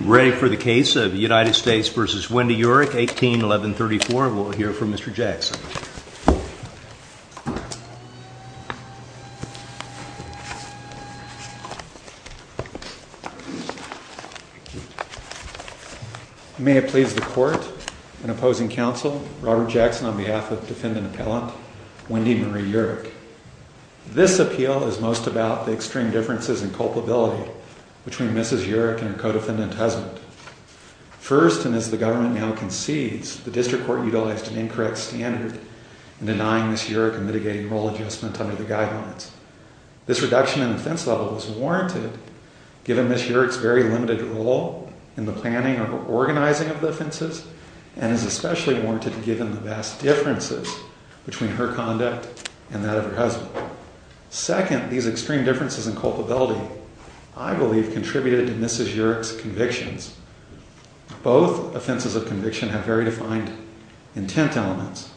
Ready for the case of United States v. Wendy Yurek, 18-1134. We'll hear from Mr. Jackson. May it please the Court, in opposing counsel, Robert Jackson on behalf of defendant appellant Wendy Marie Yurek. This appeal is most about the extreme differences in culpability between Mrs. Yurek and her co-defendant husband. First, and as the government now concedes, the district court utilized an incorrect standard in denying Mrs. Yurek a mitigating role adjustment under the guidelines. This reduction in offense level is warranted given Mrs. Yurek's very limited role in the planning or organizing of the offenses, and is especially warranted given the vast differences between her conduct and that of her husband. Second, these extreme differences in culpability, I believe, contributed to Mrs. Yurek's convictions. Both offenses of conviction have very defined intent elements,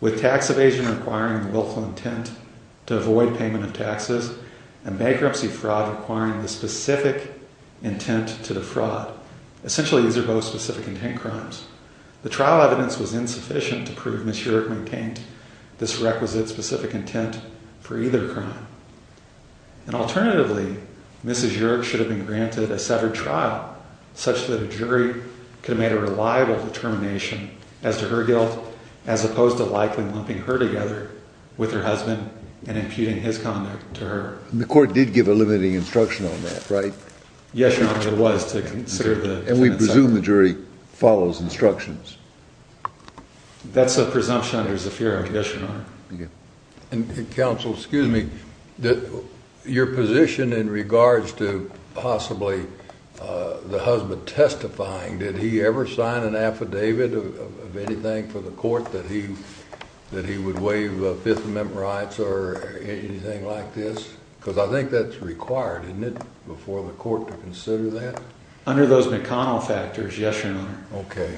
with tax evasion requiring the willful intent to avoid payment of taxes, and bankruptcy fraud requiring the specific intent to defraud. Essentially, these are both specific intent crimes. The trial evidence was insufficient to prove Mrs. Yurek maintained this requisite specific intent for either crime. And alternatively, Mrs. Yurek should have been granted a severed trial, such that a jury could have made a reliable determination as to her guilt, as opposed to likely lumping her together with her husband and imputing his conduct to her. The court did give a limiting instruction on that, right? Yes, Your Honor, it was, to consider the... And we presume the jury follows instructions. That's a presumption under Zafir, yes, Your Honor. Counsel, excuse me, your position in regards to possibly the husband testifying, did he ever sign an affidavit of anything for the court that he would waive Fifth Amendment rights or anything like this? Because I think that's required, isn't it, before the court to consider that? Under those McConnell factors, yes, Your Honor. Okay.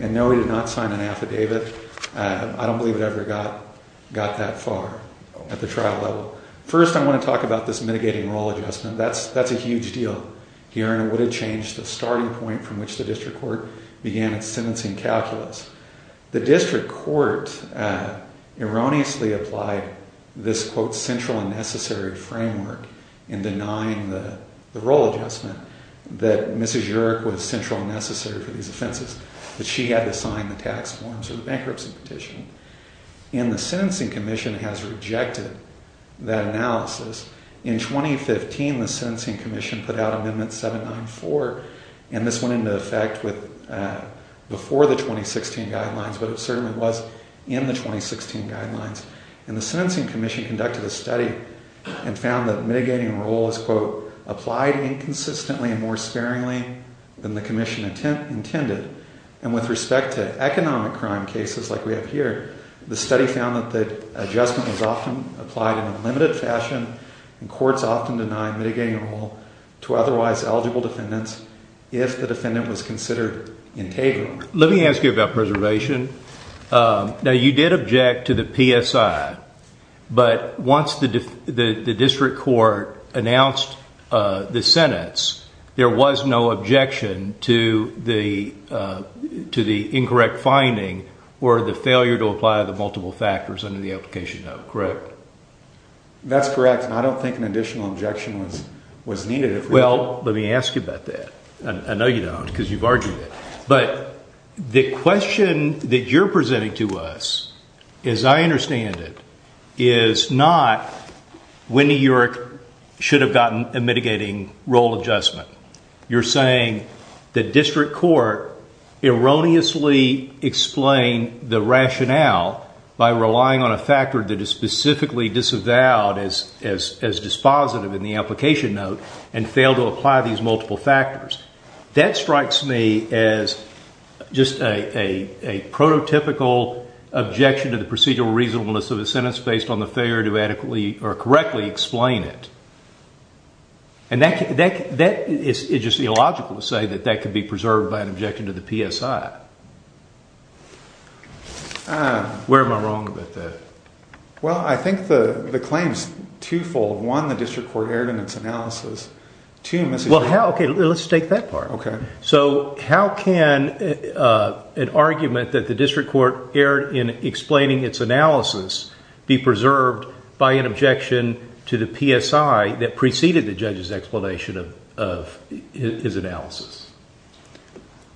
And no, he did not sign an affidavit. I don't believe it ever got that far at the trial level. First, I want to talk about this mitigating role adjustment. That's a huge deal here, and it would have changed the starting point from which the district court began its sentencing calculus. The district court erroneously applied this, quote, central and necessary framework in denying the role adjustment that Mrs. Yerrick was central and necessary for these offenses, that she had to sign the tax forms or the bankruptcy petition. And the Sentencing Commission has rejected that analysis. In 2015, the Sentencing Commission put out Amendment 794, and this went into effect before the 2016 guidelines, but it certainly was in the 2016 guidelines. And the Sentencing Commission conducted a study and found that mitigating role is, quote, applied inconsistently and more sparingly than the commission intended. And with respect to economic crime cases like we have here, the study found that the adjustment was often applied in a limited fashion, and courts often deny mitigating role to otherwise eligible defendants if the defendant was considered integral. Let me ask you about preservation. Now, you did object to the PSI, but once the district court announced the sentence, there was no objection to the incorrect finding or the failure to apply the multiple factors under the application note, correct? That's correct, and I don't think an additional objection was needed. Well, let me ask you about that. I know you don't because you've argued it. But the question that you're presenting to us, as I understand it, is not when New York should have gotten a mitigating role adjustment. You're saying the district court erroneously explained the rationale by relying on a factor that is specifically disavowed as dispositive in the application note and failed to apply these multiple factors. That strikes me as just a prototypical objection to the procedural reasonableness of the sentence based on the failure to adequately or correctly explain it. And that is just illogical to say that that could be preserved by an objection to the PSI. Where am I wrong with that? Well, I think the claim is twofold. One, the district court erred in its analysis. Okay, let's take that part. So how can an argument that the district court erred in explaining its analysis be preserved by an objection to the PSI that preceded the judge's explanation of his analysis?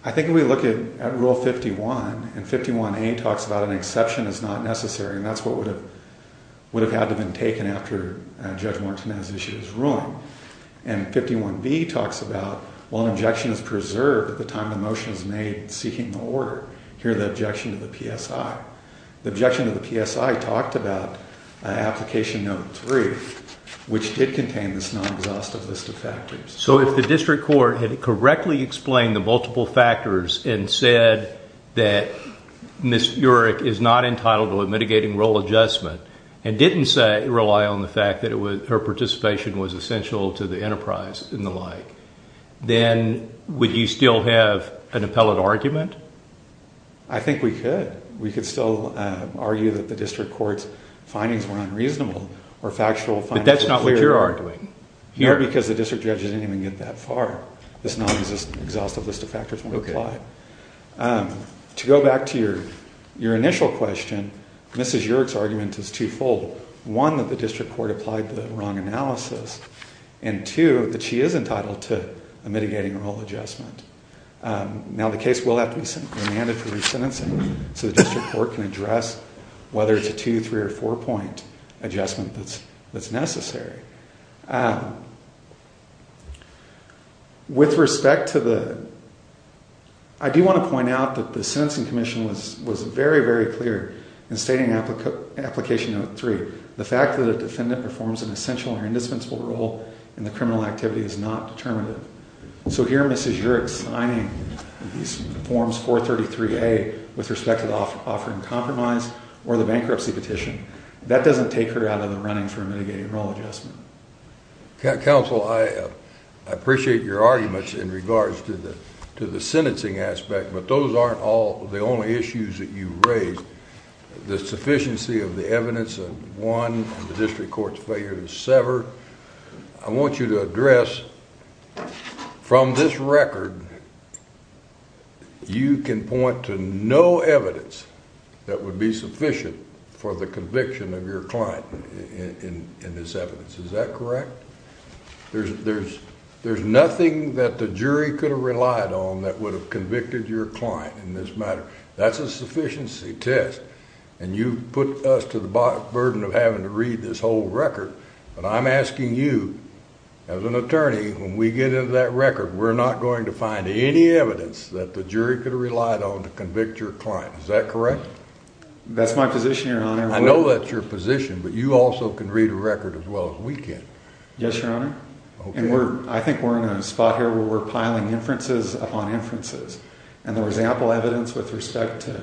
I think if we look at Rule 51, and 51A talks about an exception is not necessary, and that's what would have had to have been taken after Judge Martinez issued his ruling. And 51B talks about, well, an objection is preserved at the time the motion is made seeking the order. Here, the objection to the PSI. The objection to the PSI talked about application note three, which did contain this non-exhaustive list of factors. So if the district court had correctly explained the multiple factors and said that Ms. Urich is not entitled to a mitigating role adjustment and didn't rely on the fact that her participation was essential to the enterprise and the like, then would you still have an appellate argument? I think we could. We could still argue that the district court's findings were unreasonable or factual. But that's not what you're arguing. No, because the district judge didn't even get that far. This non-exhaustive list of factors won't apply. To go back to your initial question, Ms. Urich's argument is twofold. One, that the district court applied the wrong analysis, and two, that she is entitled to a mitigating role adjustment. Now, the case will have to be remanded for resentencing so the district court can address whether it's a two-, three-, or four-point adjustment that's necessary. With respect to the—I do want to point out that the Sentencing Commission was very, very clear in stating in Application No. 3, the fact that a defendant performs an essential or indispensable role in the criminal activity is not determinative. So here, Ms. Urich signing these Forms 433A with respect to offering compromise or the bankruptcy petition, that doesn't take her out of the running for a mitigating role adjustment. Counsel, I appreciate your arguments in regards to the sentencing aspect, but those aren't the only issues that you raise. The sufficiency of the evidence of one, the district court's failure to sever, I want you to address from this record, you can point to no evidence that would be sufficient for the conviction of your client in this evidence. Is that correct? There's nothing that the jury could have relied on that would have convicted your client in this matter. That's a sufficiency test, and you've put us to the burden of having to read this whole record, but I'm asking you, as an attorney, when we get into that record, we're not going to find any evidence that the jury could have relied on to convict your client. That's my position, Your Honor. I know that's your position, but you also can read a record as well as we can. Yes, Your Honor. Okay. I think we're in a spot here where we're piling inferences upon inferences, and there was ample evidence with respect to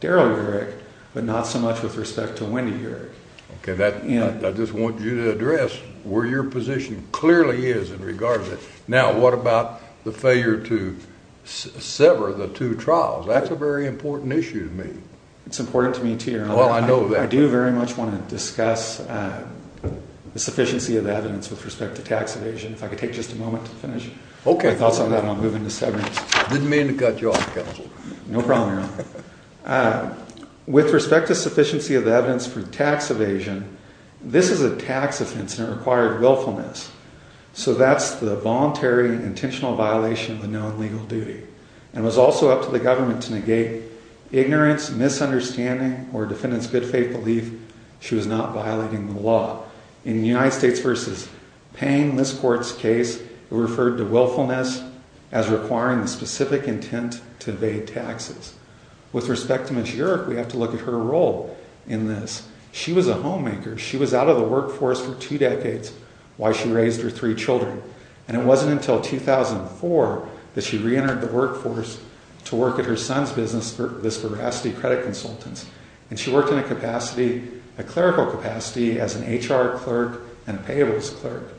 Daryl Uric, but not so much with respect to Wendy Uric. Okay. I just want you to address where your position clearly is in regards to that. Now, what about the failure to sever the two trials? That's a very important issue to me. It's important to me, too, Your Honor. Well, I know that. I do very much want to discuss the sufficiency of the evidence with respect to tax evasion. If I could take just a moment to finish my thoughts on that, and I'll move into severance. I didn't mean to cut you off, Counsel. No problem, Your Honor. With respect to sufficiency of the evidence for tax evasion, this is a tax offense, and it required willfulness. So that's the voluntary, intentional violation of the known legal duty. And it was also up to the government to negate ignorance, misunderstanding, or a defendant's good faith belief she was not violating the law. In the United States v. Payne, this court's case, it referred to willfulness as requiring the specific intent to evade taxes. With respect to Ms. Uric, we have to look at her role in this. She was a homemaker. She was out of the workforce for two decades while she raised her three children. And it wasn't until 2004 that she reentered the workforce to work at her son's business, Viscoracity Credit Consultants. And she worked in a capacity, a clerical capacity, as an HR clerk and a payables clerk.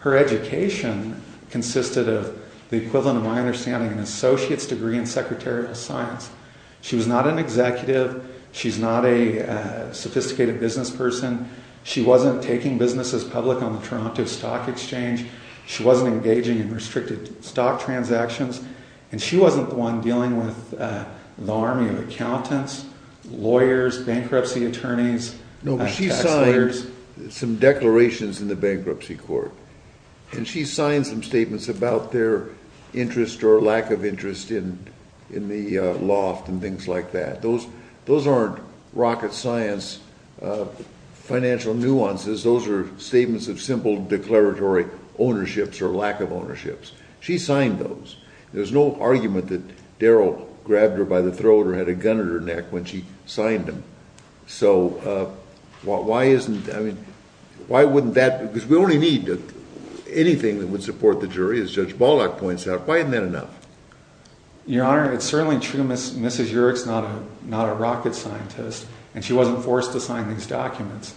Her education consisted of the equivalent of my understanding of an associate's degree in secretarial science. She was not an executive. She's not a sophisticated business person. She wasn't taking businesses public on the Toronto Stock Exchange. She wasn't engaging in restricted stock transactions. And she wasn't the one dealing with the army of accountants, lawyers, bankruptcy attorneys, tax lawyers. No, but she signed some declarations in the bankruptcy court. And she signed some statements about their interest or lack of interest in the loft and things like that. Those aren't rocket science financial nuances. Those are statements of simple declaratory ownerships or lack of ownerships. She signed those. There's no argument that Daryl grabbed her by the throat or had a gun at her neck when she signed them. So why isn't, I mean, why wouldn't that, because we only need anything that would support the jury, as Judge Baldock points out. Why isn't that enough? Your Honor, it's certainly true Mrs. Yerrick's not a rocket scientist, and she wasn't forced to sign these documents.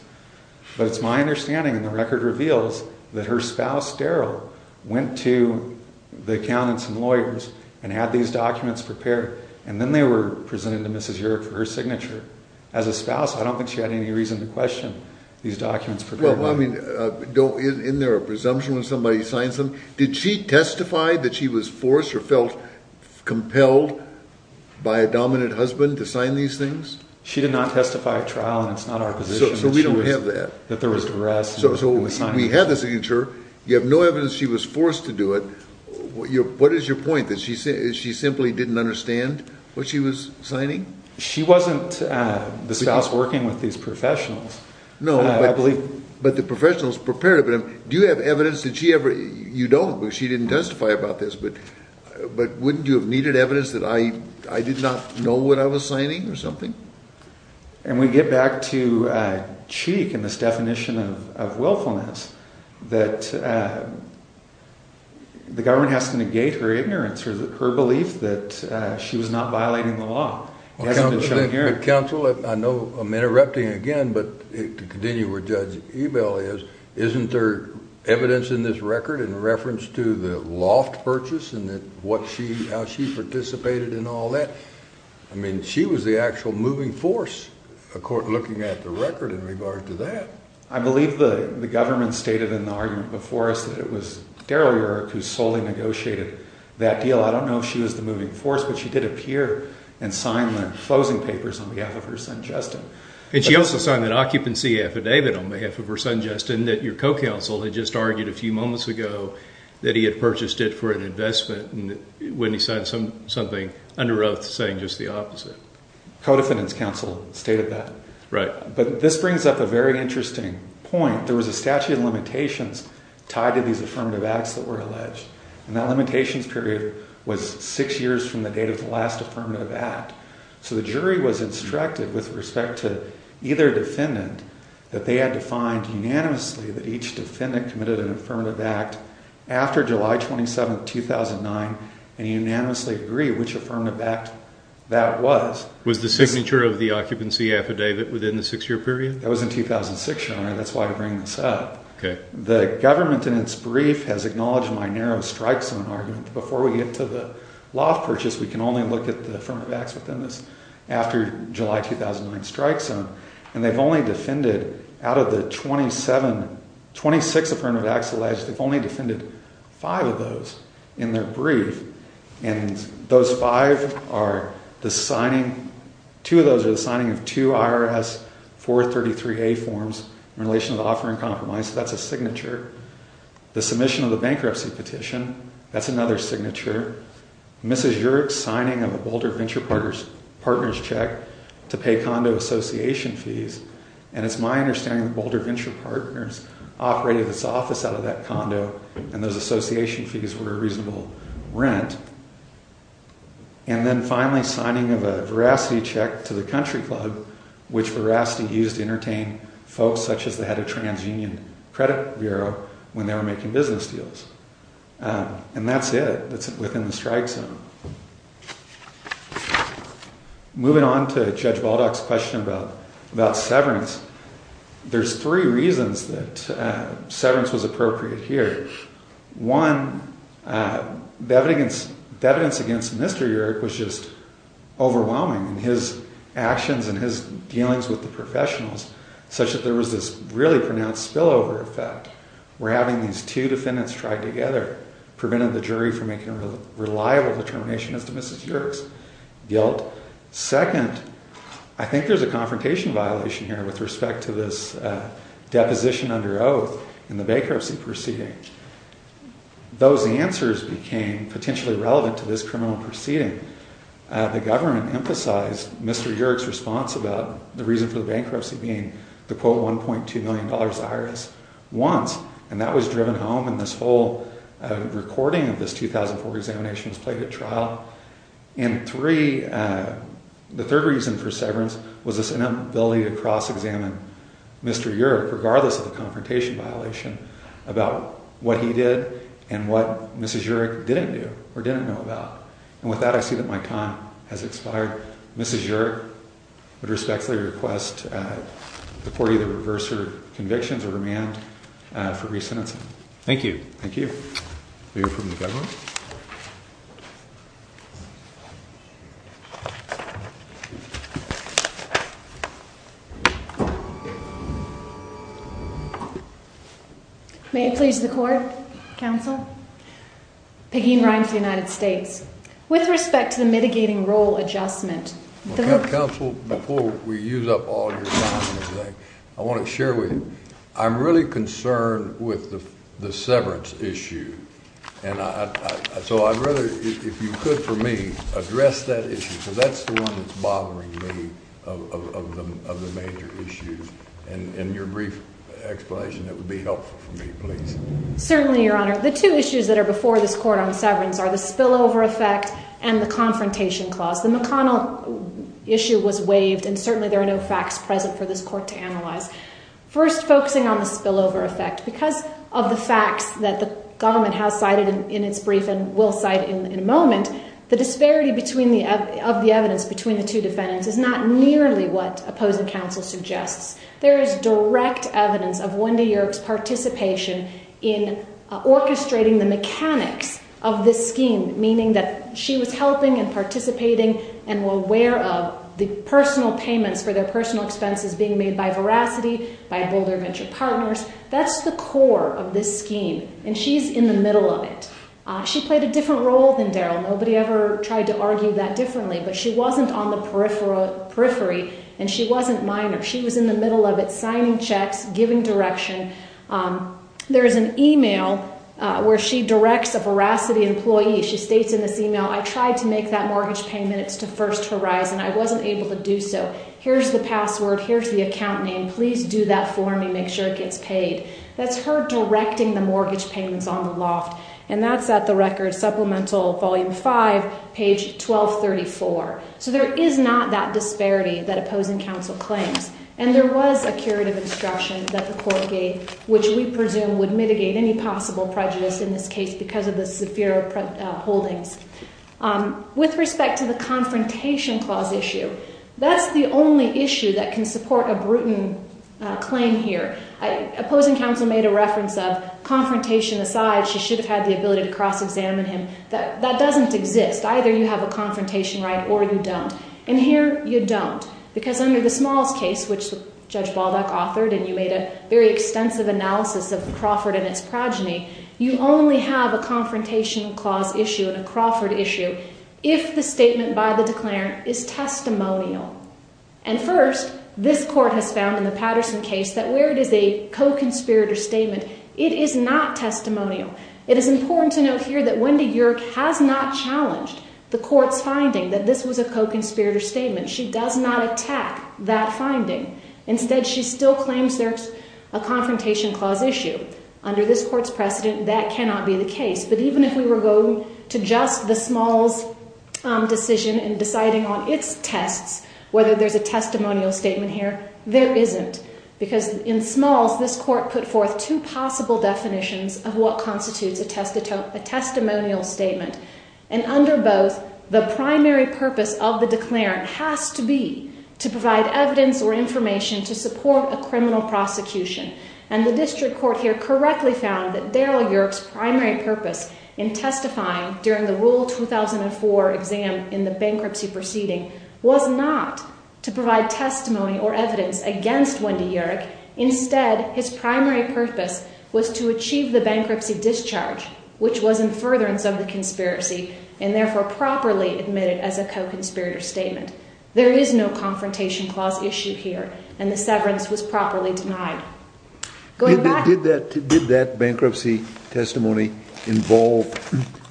But it's my understanding, and the record reveals, that her spouse, Daryl, went to the accountants and lawyers and had these documents prepared. And then they were presented to Mrs. Yerrick for her signature. As a spouse, I don't think she had any reason to question these documents. Well, I mean, isn't there a presumption when somebody signs them? Did she testify that she was forced or felt compelled by a dominant husband to sign these things? She did not testify at trial, and it's not our position that there was duress. So we have the signature. You have no evidence she was forced to do it. What is your point, that she simply didn't understand what she was signing? She wasn't the spouse working with these professionals. No, but the professionals prepared them. Do you have evidence that she ever, you don't because she didn't testify about this, but wouldn't you have needed evidence that I did not know what I was signing or something? And we get back to Cheek and this definition of willfulness. That the government has to negate her ignorance, her belief that she was not violating the law. Counsel, I know I'm interrupting again, but to continue where Judge Ebell is, isn't there evidence in this record in reference to the loft purchase and how she participated in all that? I mean, she was the actual moving force looking at the record in regard to that. I believe the government stated in the argument before us that it was Daryl Yerrick who solely negotiated that deal. I don't know if she was the moving force, but she did appear and sign the closing papers on behalf of her son, Justin. And she also signed that occupancy affidavit on behalf of her son, Justin, that your co-counsel had just argued a few moments ago that he had purchased it for an investment when he signed something under oath saying just the opposite. Co-defendant's counsel stated that. Right. But this brings up a very interesting point. There was a statute of limitations tied to these affirmative acts that were alleged. And that limitations period was six years from the date of the last affirmative act. So the jury was instructed with respect to either defendant that they had to find unanimously that each defendant committed an affirmative act after July 27, 2009, and unanimously agree which affirmative act that was. Was the signature of the occupancy affidavit within the six-year period? That was in 2006, Your Honor. That's why I bring this up. Okay. The government in its brief has acknowledged my narrow strike zone argument. Before we get to the loft purchase, we can only look at the affirmative acts within this after July 2009 strike zone. And they've only defended out of the 27, 26 affirmative acts alleged, they've only defended five of those in their brief. And those five are the signing, two of those are the signing of two IRS 433A forms in relation to the offering compromise, that's a signature. The submission of the bankruptcy petition, that's another signature. Mrs. Yerrick's signing of a Boulder Venture Partners check to pay condo association fees. And it's my understanding that Boulder Venture Partners operated its office out of that condo, and those association fees were a reasonable rent. And then finally signing of a veracity check to the country club, which veracity used to entertain folks such as the head of TransUnion Credit Bureau when they were making business deals. And that's it. That's within the strike zone. Moving on to Judge Baldock's question about severance, there's three reasons that severance was appropriate here. One, the evidence against Mr. Yerrick was just overwhelming. His actions and his dealings with the professionals, such that there was this really pronounced spillover effect, where having these two defendants tried together prevented the jury from making a reliable determination as to Mrs. Yerrick's guilt. Second, I think there's a confrontation violation here with respect to this deposition under oath in the bankruptcy proceeding. Those answers became potentially relevant to this criminal proceeding. The government emphasized Mr. Yerrick's response about the reason for the bankruptcy being the quote $1.2 million the IRS wants, and that was driven home in this whole recording of this 2004 examination that was played at trial. And three, the third reason for severance was this inability to cross-examine Mr. Yerrick, regardless of the confrontation violation, about what he did and what Mrs. Yerrick didn't do or didn't know about. And with that, I see that my time has expired. Mrs. Yerrick would respectfully request the court either reverse her convictions or remand for re-sentencing. Thank you. Thank you. We hear from the government. May it please the court, counsel. Peggy Rimes of the United States. With respect to the mitigating role adjustment. Counsel, before we use up all your time, I want to share with you, I'm really concerned with the severance issue. And so I'd rather, if you could for me, address that issue, because that's the one that's bothering me of the major issues. And your brief explanation, that would be helpful for me, please. Certainly, Your Honor. The two issues that are before this court on severance are the spillover effect and the confrontation clause. The McConnell issue was waived, and certainly there are no facts present for this court to analyze. First, focusing on the spillover effect. Because of the facts that the government has cited in its brief and will cite in a moment, the disparity of the evidence between the two defendants is not nearly what opposing counsel suggests. There is direct evidence of Wendy Yerke's participation in orchestrating the mechanics of this scheme, meaning that she was helping and participating and were aware of the personal payments for their personal expenses being made by Veracity, by Boulder Venture Partners. That's the core of this scheme. And she's in the middle of it. She played a different role than Daryl. Nobody ever tried to argue that differently. But she wasn't on the periphery, and she wasn't minor. She was in the middle of it, signing checks, giving direction. There is an email where she directs a Veracity employee. She states in this email, I tried to make that mortgage payment. It's to First Horizon. I wasn't able to do so. Here's the password. Here's the account name. Please do that for me. Make sure it gets paid. That's her directing the mortgage payments on the loft. And that's at the record, Supplemental Volume 5, page 1234. So there is not that disparity that Opposing Counsel claims. And there was a curative instruction that the court gave, which we presume would mitigate any possible prejudice in this case because of the severe holdings. With respect to the Confrontation Clause issue, that's the only issue that can support a brutal claim here. Opposing Counsel made a reference of, Confrontation aside, she should have had the ability to cross-examine him. That doesn't exist. Either you have a Confrontation right or you don't. And here, you don't. Because under the Smalls case, which Judge Balduck authored, and you made a very extensive analysis of Crawford and its progeny, you only have a Confrontation Clause issue and a Crawford issue if the statement by the declarant is testimonial. And first, this court has found in the Patterson case that where it is a co-conspirator statement, it is not testimonial. It is important to note here that Wendy Yerk has not challenged the court's finding that this was a co-conspirator statement. She does not attack that finding. Instead, she still claims there's a Confrontation Clause issue. Under this court's precedent, that cannot be the case. But even if we were going to just the Smalls decision and deciding on its tests, whether there's a testimonial statement here, there isn't. Because in Smalls, this court put forth two possible definitions of what constitutes a testimonial statement. And under both, the primary purpose of the declarant has to be to provide evidence or information to support a criminal prosecution. And the district court here correctly found that Daryl Yerk's primary purpose in testifying during the Rule 2004 exam in the bankruptcy proceeding was not to provide testimony or evidence against Wendy Yerk. Instead, his primary purpose was to achieve the bankruptcy discharge, which was in furtherance of the conspiracy, and therefore properly admitted as a co-conspirator statement. There is no Confrontation Clause issue here, and the severance was properly denied. Did that bankruptcy testimony involve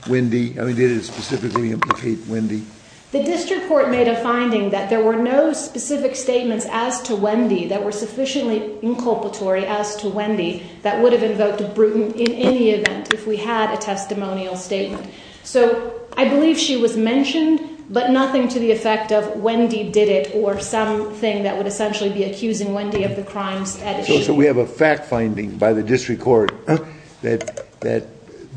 Wendy? I mean, did it specifically implicate Wendy? The district court made a finding that there were no specific statements as to Wendy that were sufficiently inculpatory as to Wendy that would have invoked Bruton in any event if we had a testimonial statement. So I believe she was mentioned, but nothing to the effect of Wendy did it, or something that would essentially be accusing Wendy of the crimes at issue. So we have a fact finding by the district court that there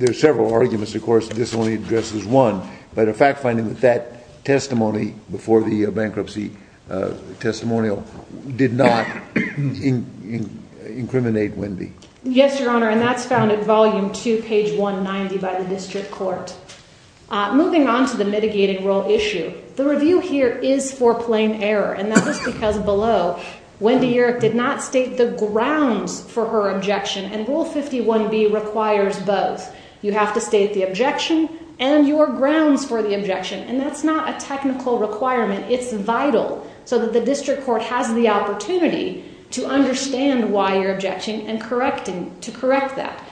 are several arguments, of course, this only addresses one, but a fact finding that that testimony before the bankruptcy testimonial did not incriminate Wendy. Yes, Your Honor, and that's found in Volume 2, page 190 by the district court. Moving on to the mitigating rule issue, the review here is for plain error, and that is because below, Wendy Yerk did not state the grounds for her objection, and Rule 51B requires both. You have to state the objection and your grounds for the objection, and that's not a technical requirement. It's vital so that the district court has the opportunity to understand why you're objecting and to correct that.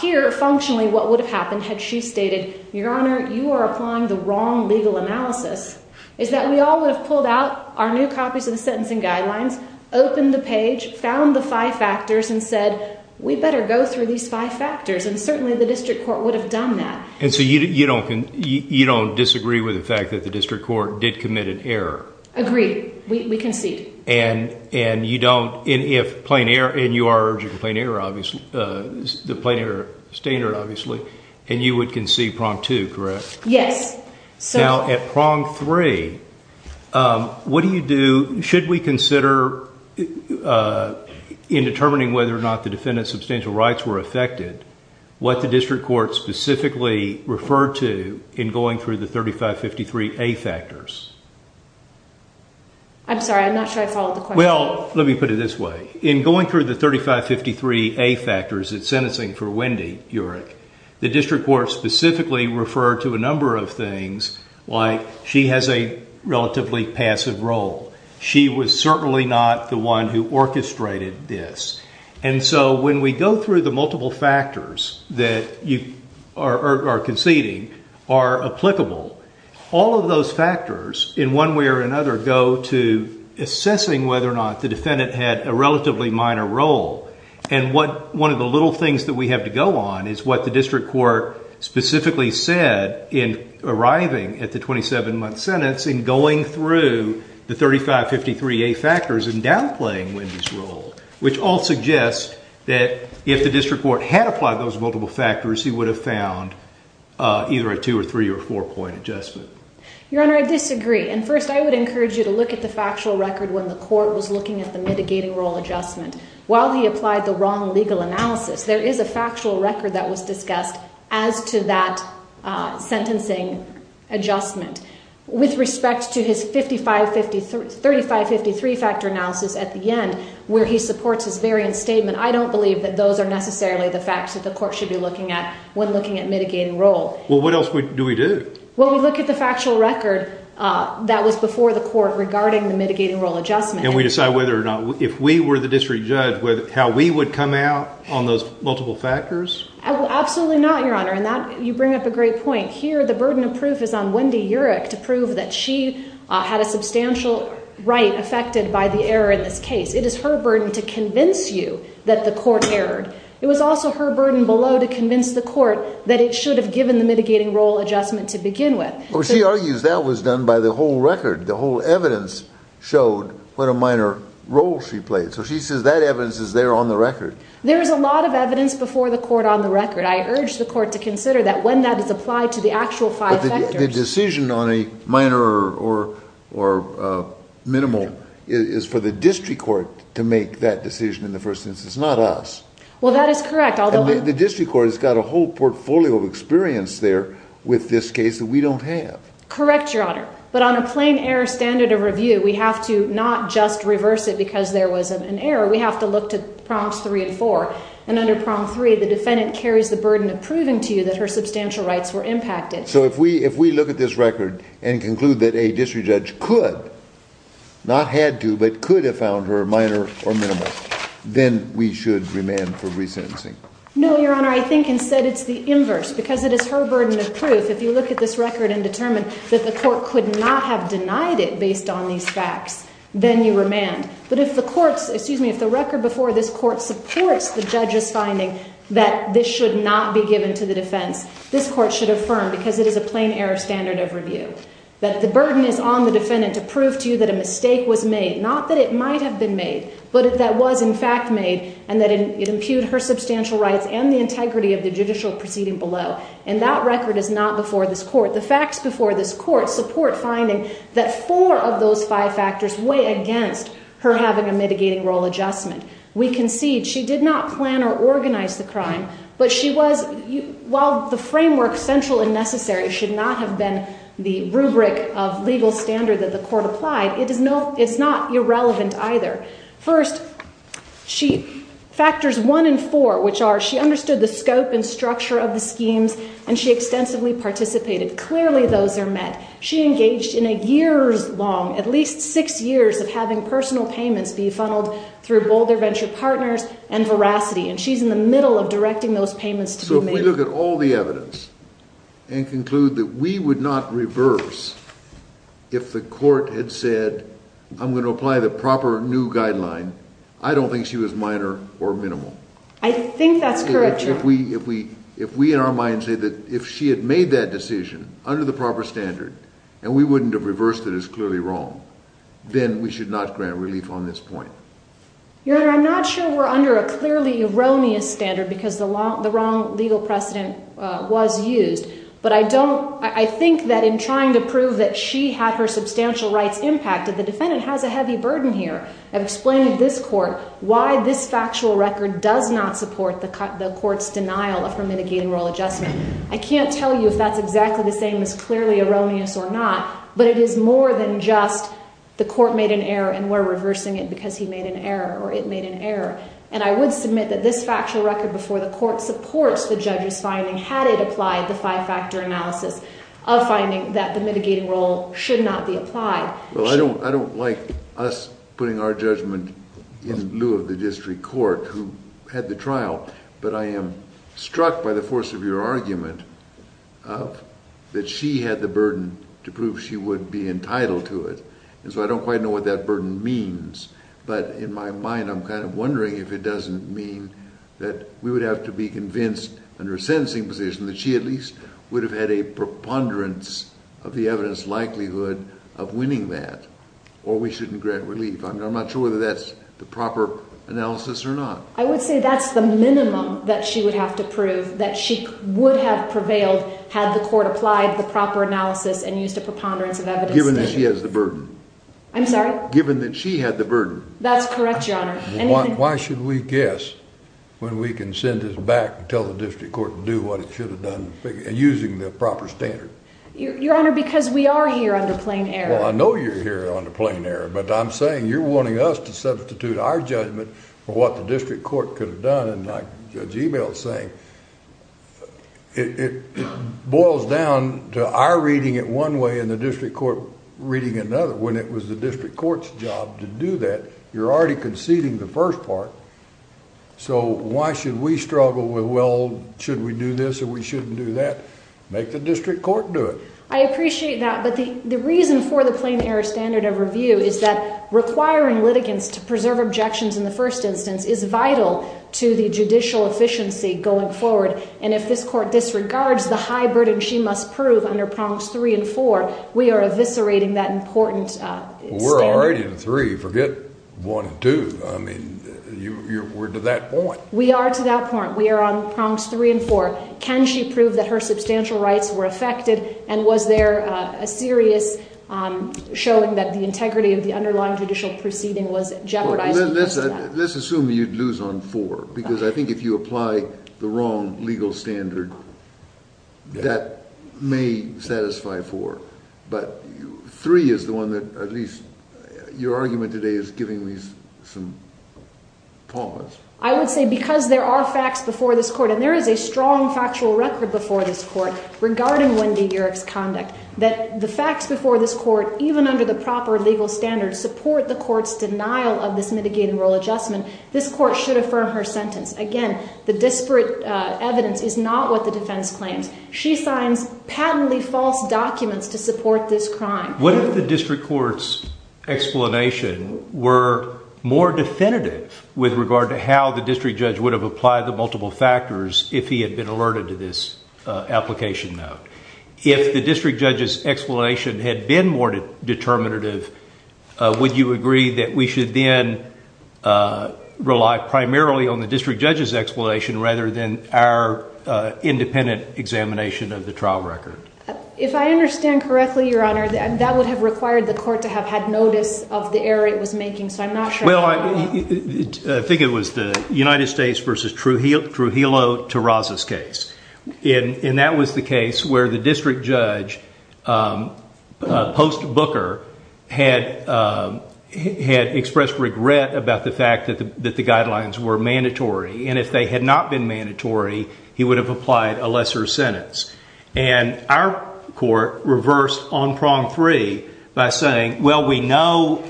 Here, functionally, what would have happened had she stated, Your Honor, you are applying the wrong legal analysis, is that we all would have pulled out our new copies of the Sentencing Guidelines, opened the page, found the five factors, and said, we better go through these five factors, and certainly the district court would have done that. And so you don't disagree with the fact that the district court did commit an error? Agreed. We concede. And you don't, if plain error, and you are urging plain error, obviously, the plain error standard, obviously, and you would concede Prong 2, correct? Yes. Now, at Prong 3, what do you do? Should we consider in determining whether or not the defendant's substantial rights were affected what the district court specifically referred to in going through the 3553A factors? I'm sorry. I'm not sure I followed the question. Well, let me put it this way. In going through the 3553A factors in sentencing for Wendy Yerk, the district court specifically referred to a number of things, like she has a relatively passive role. She was certainly not the one who orchestrated this. And so when we go through the multiple factors that you are conceding are applicable, all of those factors, in one way or another, go to assessing whether or not the defendant had a relatively minor role. And one of the little things that we have to go on is what the district court specifically said in arriving at the 27-month sentence in going through the 3553A factors and downplaying Wendy's role, which all suggests that if the district court had applied those multiple factors, he would have found either a 2- or 3- or 4-point adjustment. Your Honor, I disagree. And first, I would encourage you to look at the factual record when the court was looking at the mitigating role adjustment. While he applied the wrong legal analysis, there is a factual record that was discussed as to that sentencing adjustment. With respect to his 3553 factor analysis at the end, where he supports his variance statement, I don't believe that those are necessarily the facts that the court should be looking at when looking at mitigating role. Well, what else do we do? Well, we look at the factual record that was before the court regarding the mitigating role adjustment. And we decide whether or not, if we were the district judge, how we would come out on those multiple factors? Absolutely not, Your Honor. And you bring up a great point. Here the burden of proof is on Wendy Urich to prove that she had a substantial right affected by the error in this case. It is her burden to convince you that the court erred. It was also her burden below to convince the court that it should have given the mitigating role adjustment to begin with. Well, she argues that was done by the whole record. The whole evidence showed what a minor role she played. So she says that evidence is there on the record. There is a lot of evidence before the court on the record. I urge the court to consider that when that is applied to the actual five factors. But the decision on a minor or minimal is for the district court to make that decision in the first instance, not us. Well, that is correct. The district court has got a whole portfolio of experience there with this case that we don't have. Correct, Your Honor. But on a plain error standard of review, we have to not just reverse it because there was an error. We have to look to Prompts 3 and 4. And under Prompt 3, the defendant carries the burden of proving to you that her substantial rights were impacted. So if we look at this record and conclude that a district judge could, not had to, but could have found her minor or minimal, then we should remand for resentencing. No, Your Honor. I think instead it's the inverse because it is her burden of proof. If you look at this record and determine that the court could not have denied it based on these facts, then you remand. But if the record before this court supports the judge's finding that this should not be given to the defense, this court should affirm because it is a plain error standard of review. That the burden is on the defendant to prove to you that a mistake was made. Not that it might have been made, but that it was in fact made and that it impugned her substantial rights and the integrity of the judicial proceeding below. And that record is not before this court. The facts before this court support finding that four of those five factors weigh against her having a mitigating role adjustment. We concede she did not plan or organize the crime, but she was, while the framework, central and necessary, should not have been the rubric of legal standard that the court applied, it's not irrelevant either. First, factors one and four, which are she understood the scope and structure of the schemes and she extensively participated. Clearly those are met. She engaged in a year's long, at least six years, of having personal payments be funneled through Boulder Venture Partners and Veracity. And she's in the middle of directing those payments to the mayor. If we look at all the evidence and conclude that we would not reverse if the court had said, I'm going to apply the proper new guideline, I don't think she was minor or minimal. I think that's correct, Your Honor. If we in our minds say that if she had made that decision under the proper standard and we wouldn't have reversed it as clearly wrong, then we should not grant relief on this point. Your Honor, I'm not sure we're under a clearly erroneous standard because the wrong legal precedent was used. But I think that in trying to prove that she had her substantial rights impacted, the defendant has a heavy burden here. I've explained to this court why this factual record does not support the court's denial of her mitigating royal adjustment. I can't tell you if that's exactly the same as clearly erroneous or not, but it is more than just the court made an error and we're reversing it because he made an error or it made an error. And I would submit that this factual record before the court supports the judge's finding had it applied the five-factor analysis of finding that the mitigating role should not be applied. Well, I don't like us putting our judgment in lieu of the district court who had the trial, but I am struck by the force of your argument that she had the burden to prove she would be entitled to it. And so I don't quite know what that burden means, but in my mind I'm kind of wondering if it doesn't mean that we would have to be convinced under a sentencing position that she at least would have had a preponderance of the evidence likelihood of winning that or we shouldn't grant relief. I'm not sure whether that's the proper analysis or not. I would say that's the minimum that she would have to prove, that she would have prevailed had the court applied the proper analysis and used a preponderance of evidence. Given that she has the burden. I'm sorry? Given that she had the burden. That's correct, Your Honor. Why should we guess when we can send this back and tell the district court to do what it should have done and using the proper standard? Your Honor, because we are here under plain error. Well, I know you're here under plain error, but I'm saying you're wanting us to substitute our judgment for what the district court could have done. And like Judge Ebel is saying, it boils down to our reading it one way and the district court reading another. When it was the district court's job to do that, you're already conceding the first part. So why should we struggle with, well, should we do this or we shouldn't do that? Make the district court do it. I appreciate that, but the reason for the plain error standard of review is that requiring litigants to preserve objections in the first instance is vital to the judicial efficiency going forward. And if this court disregards the high burden she must prove under prongs three and four, we are eviscerating that important standard. We're already in three. Forget one and two. I mean, we're to that point. We are to that point. We are on prongs three and four. Can she prove that her substantial rights were affected and was there a serious showing that the integrity of the underlying judicial proceeding was jeopardized? Let's assume you'd lose on four because I think if you apply the wrong legal standard, that may satisfy four. But three is the one that at least your argument today is giving me some pause. I would say because there are facts before this court, and there is a strong factual record before this court regarding Wendy Urick's conduct, that the facts before this court, even under the proper legal standard, support the court's denial of this mitigating rule adjustment. This court should affirm her sentence. Again, the disparate evidence is not what the defense claims. She signs patently false documents to support this crime. What if the district court's explanation were more definitive with regard to how the district judge would have applied the multiple factors if he had been alerted to this application note? If the district judge's explanation had been more determinative, would you agree that we should then rely primarily on the district judge's explanation rather than our independent examination of the trial record? If I understand correctly, Your Honor, that would have required the court to have had notice of the error it was making, so I'm not sure. Well, I think it was the United States v. Trujillo-Torraza's case. And that was the case where the district judge, post-Booker, had expressed regret about the fact that the guidelines were mandatory. And if they had not been mandatory, he would have applied a lesser sentence. And our court reversed on prong three by saying, well, we know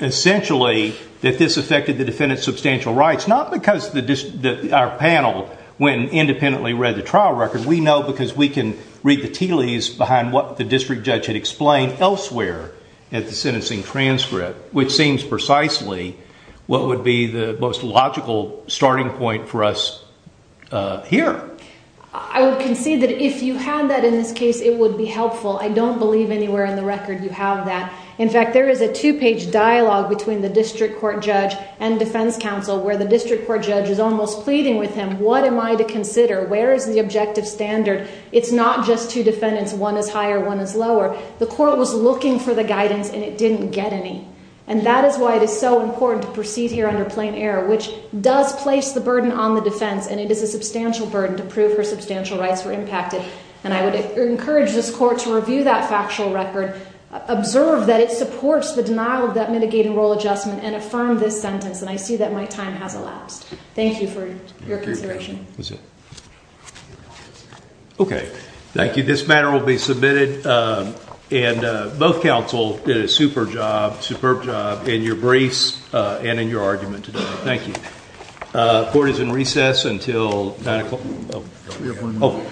essentially that this affected the defendant's substantial rights. Not because our panel went and independently read the trial record. We know because we can read the tea leaves behind what the district judge had explained elsewhere at the sentencing transcript, which seems precisely what would be the most logical starting point for us here. I would concede that if you had that in this case, it would be helpful. I don't believe anywhere in the record you have that. In fact, there is a two-page dialogue between the district court judge and defense counsel where the district court judge is almost pleading with him, what am I to consider? Where is the objective standard? It's not just two defendants. One is higher, one is lower. The court was looking for the guidance, and it didn't get any. And that is why it is so important to proceed here under plain error, which does place the burden on the defense, and it is a substantial burden to prove her substantial rights were impacted. And I would encourage this court to review that factual record, observe that it supports the denial of that mitigating role adjustment, and affirm this sentence. And I see that my time has elapsed. Thank you for your consideration. Okay. Thank you. This matter will be submitted, and both counsel did a super job, superb job in your briefs and in your argument today. Thank you. Court is in recess until 9 o'clock.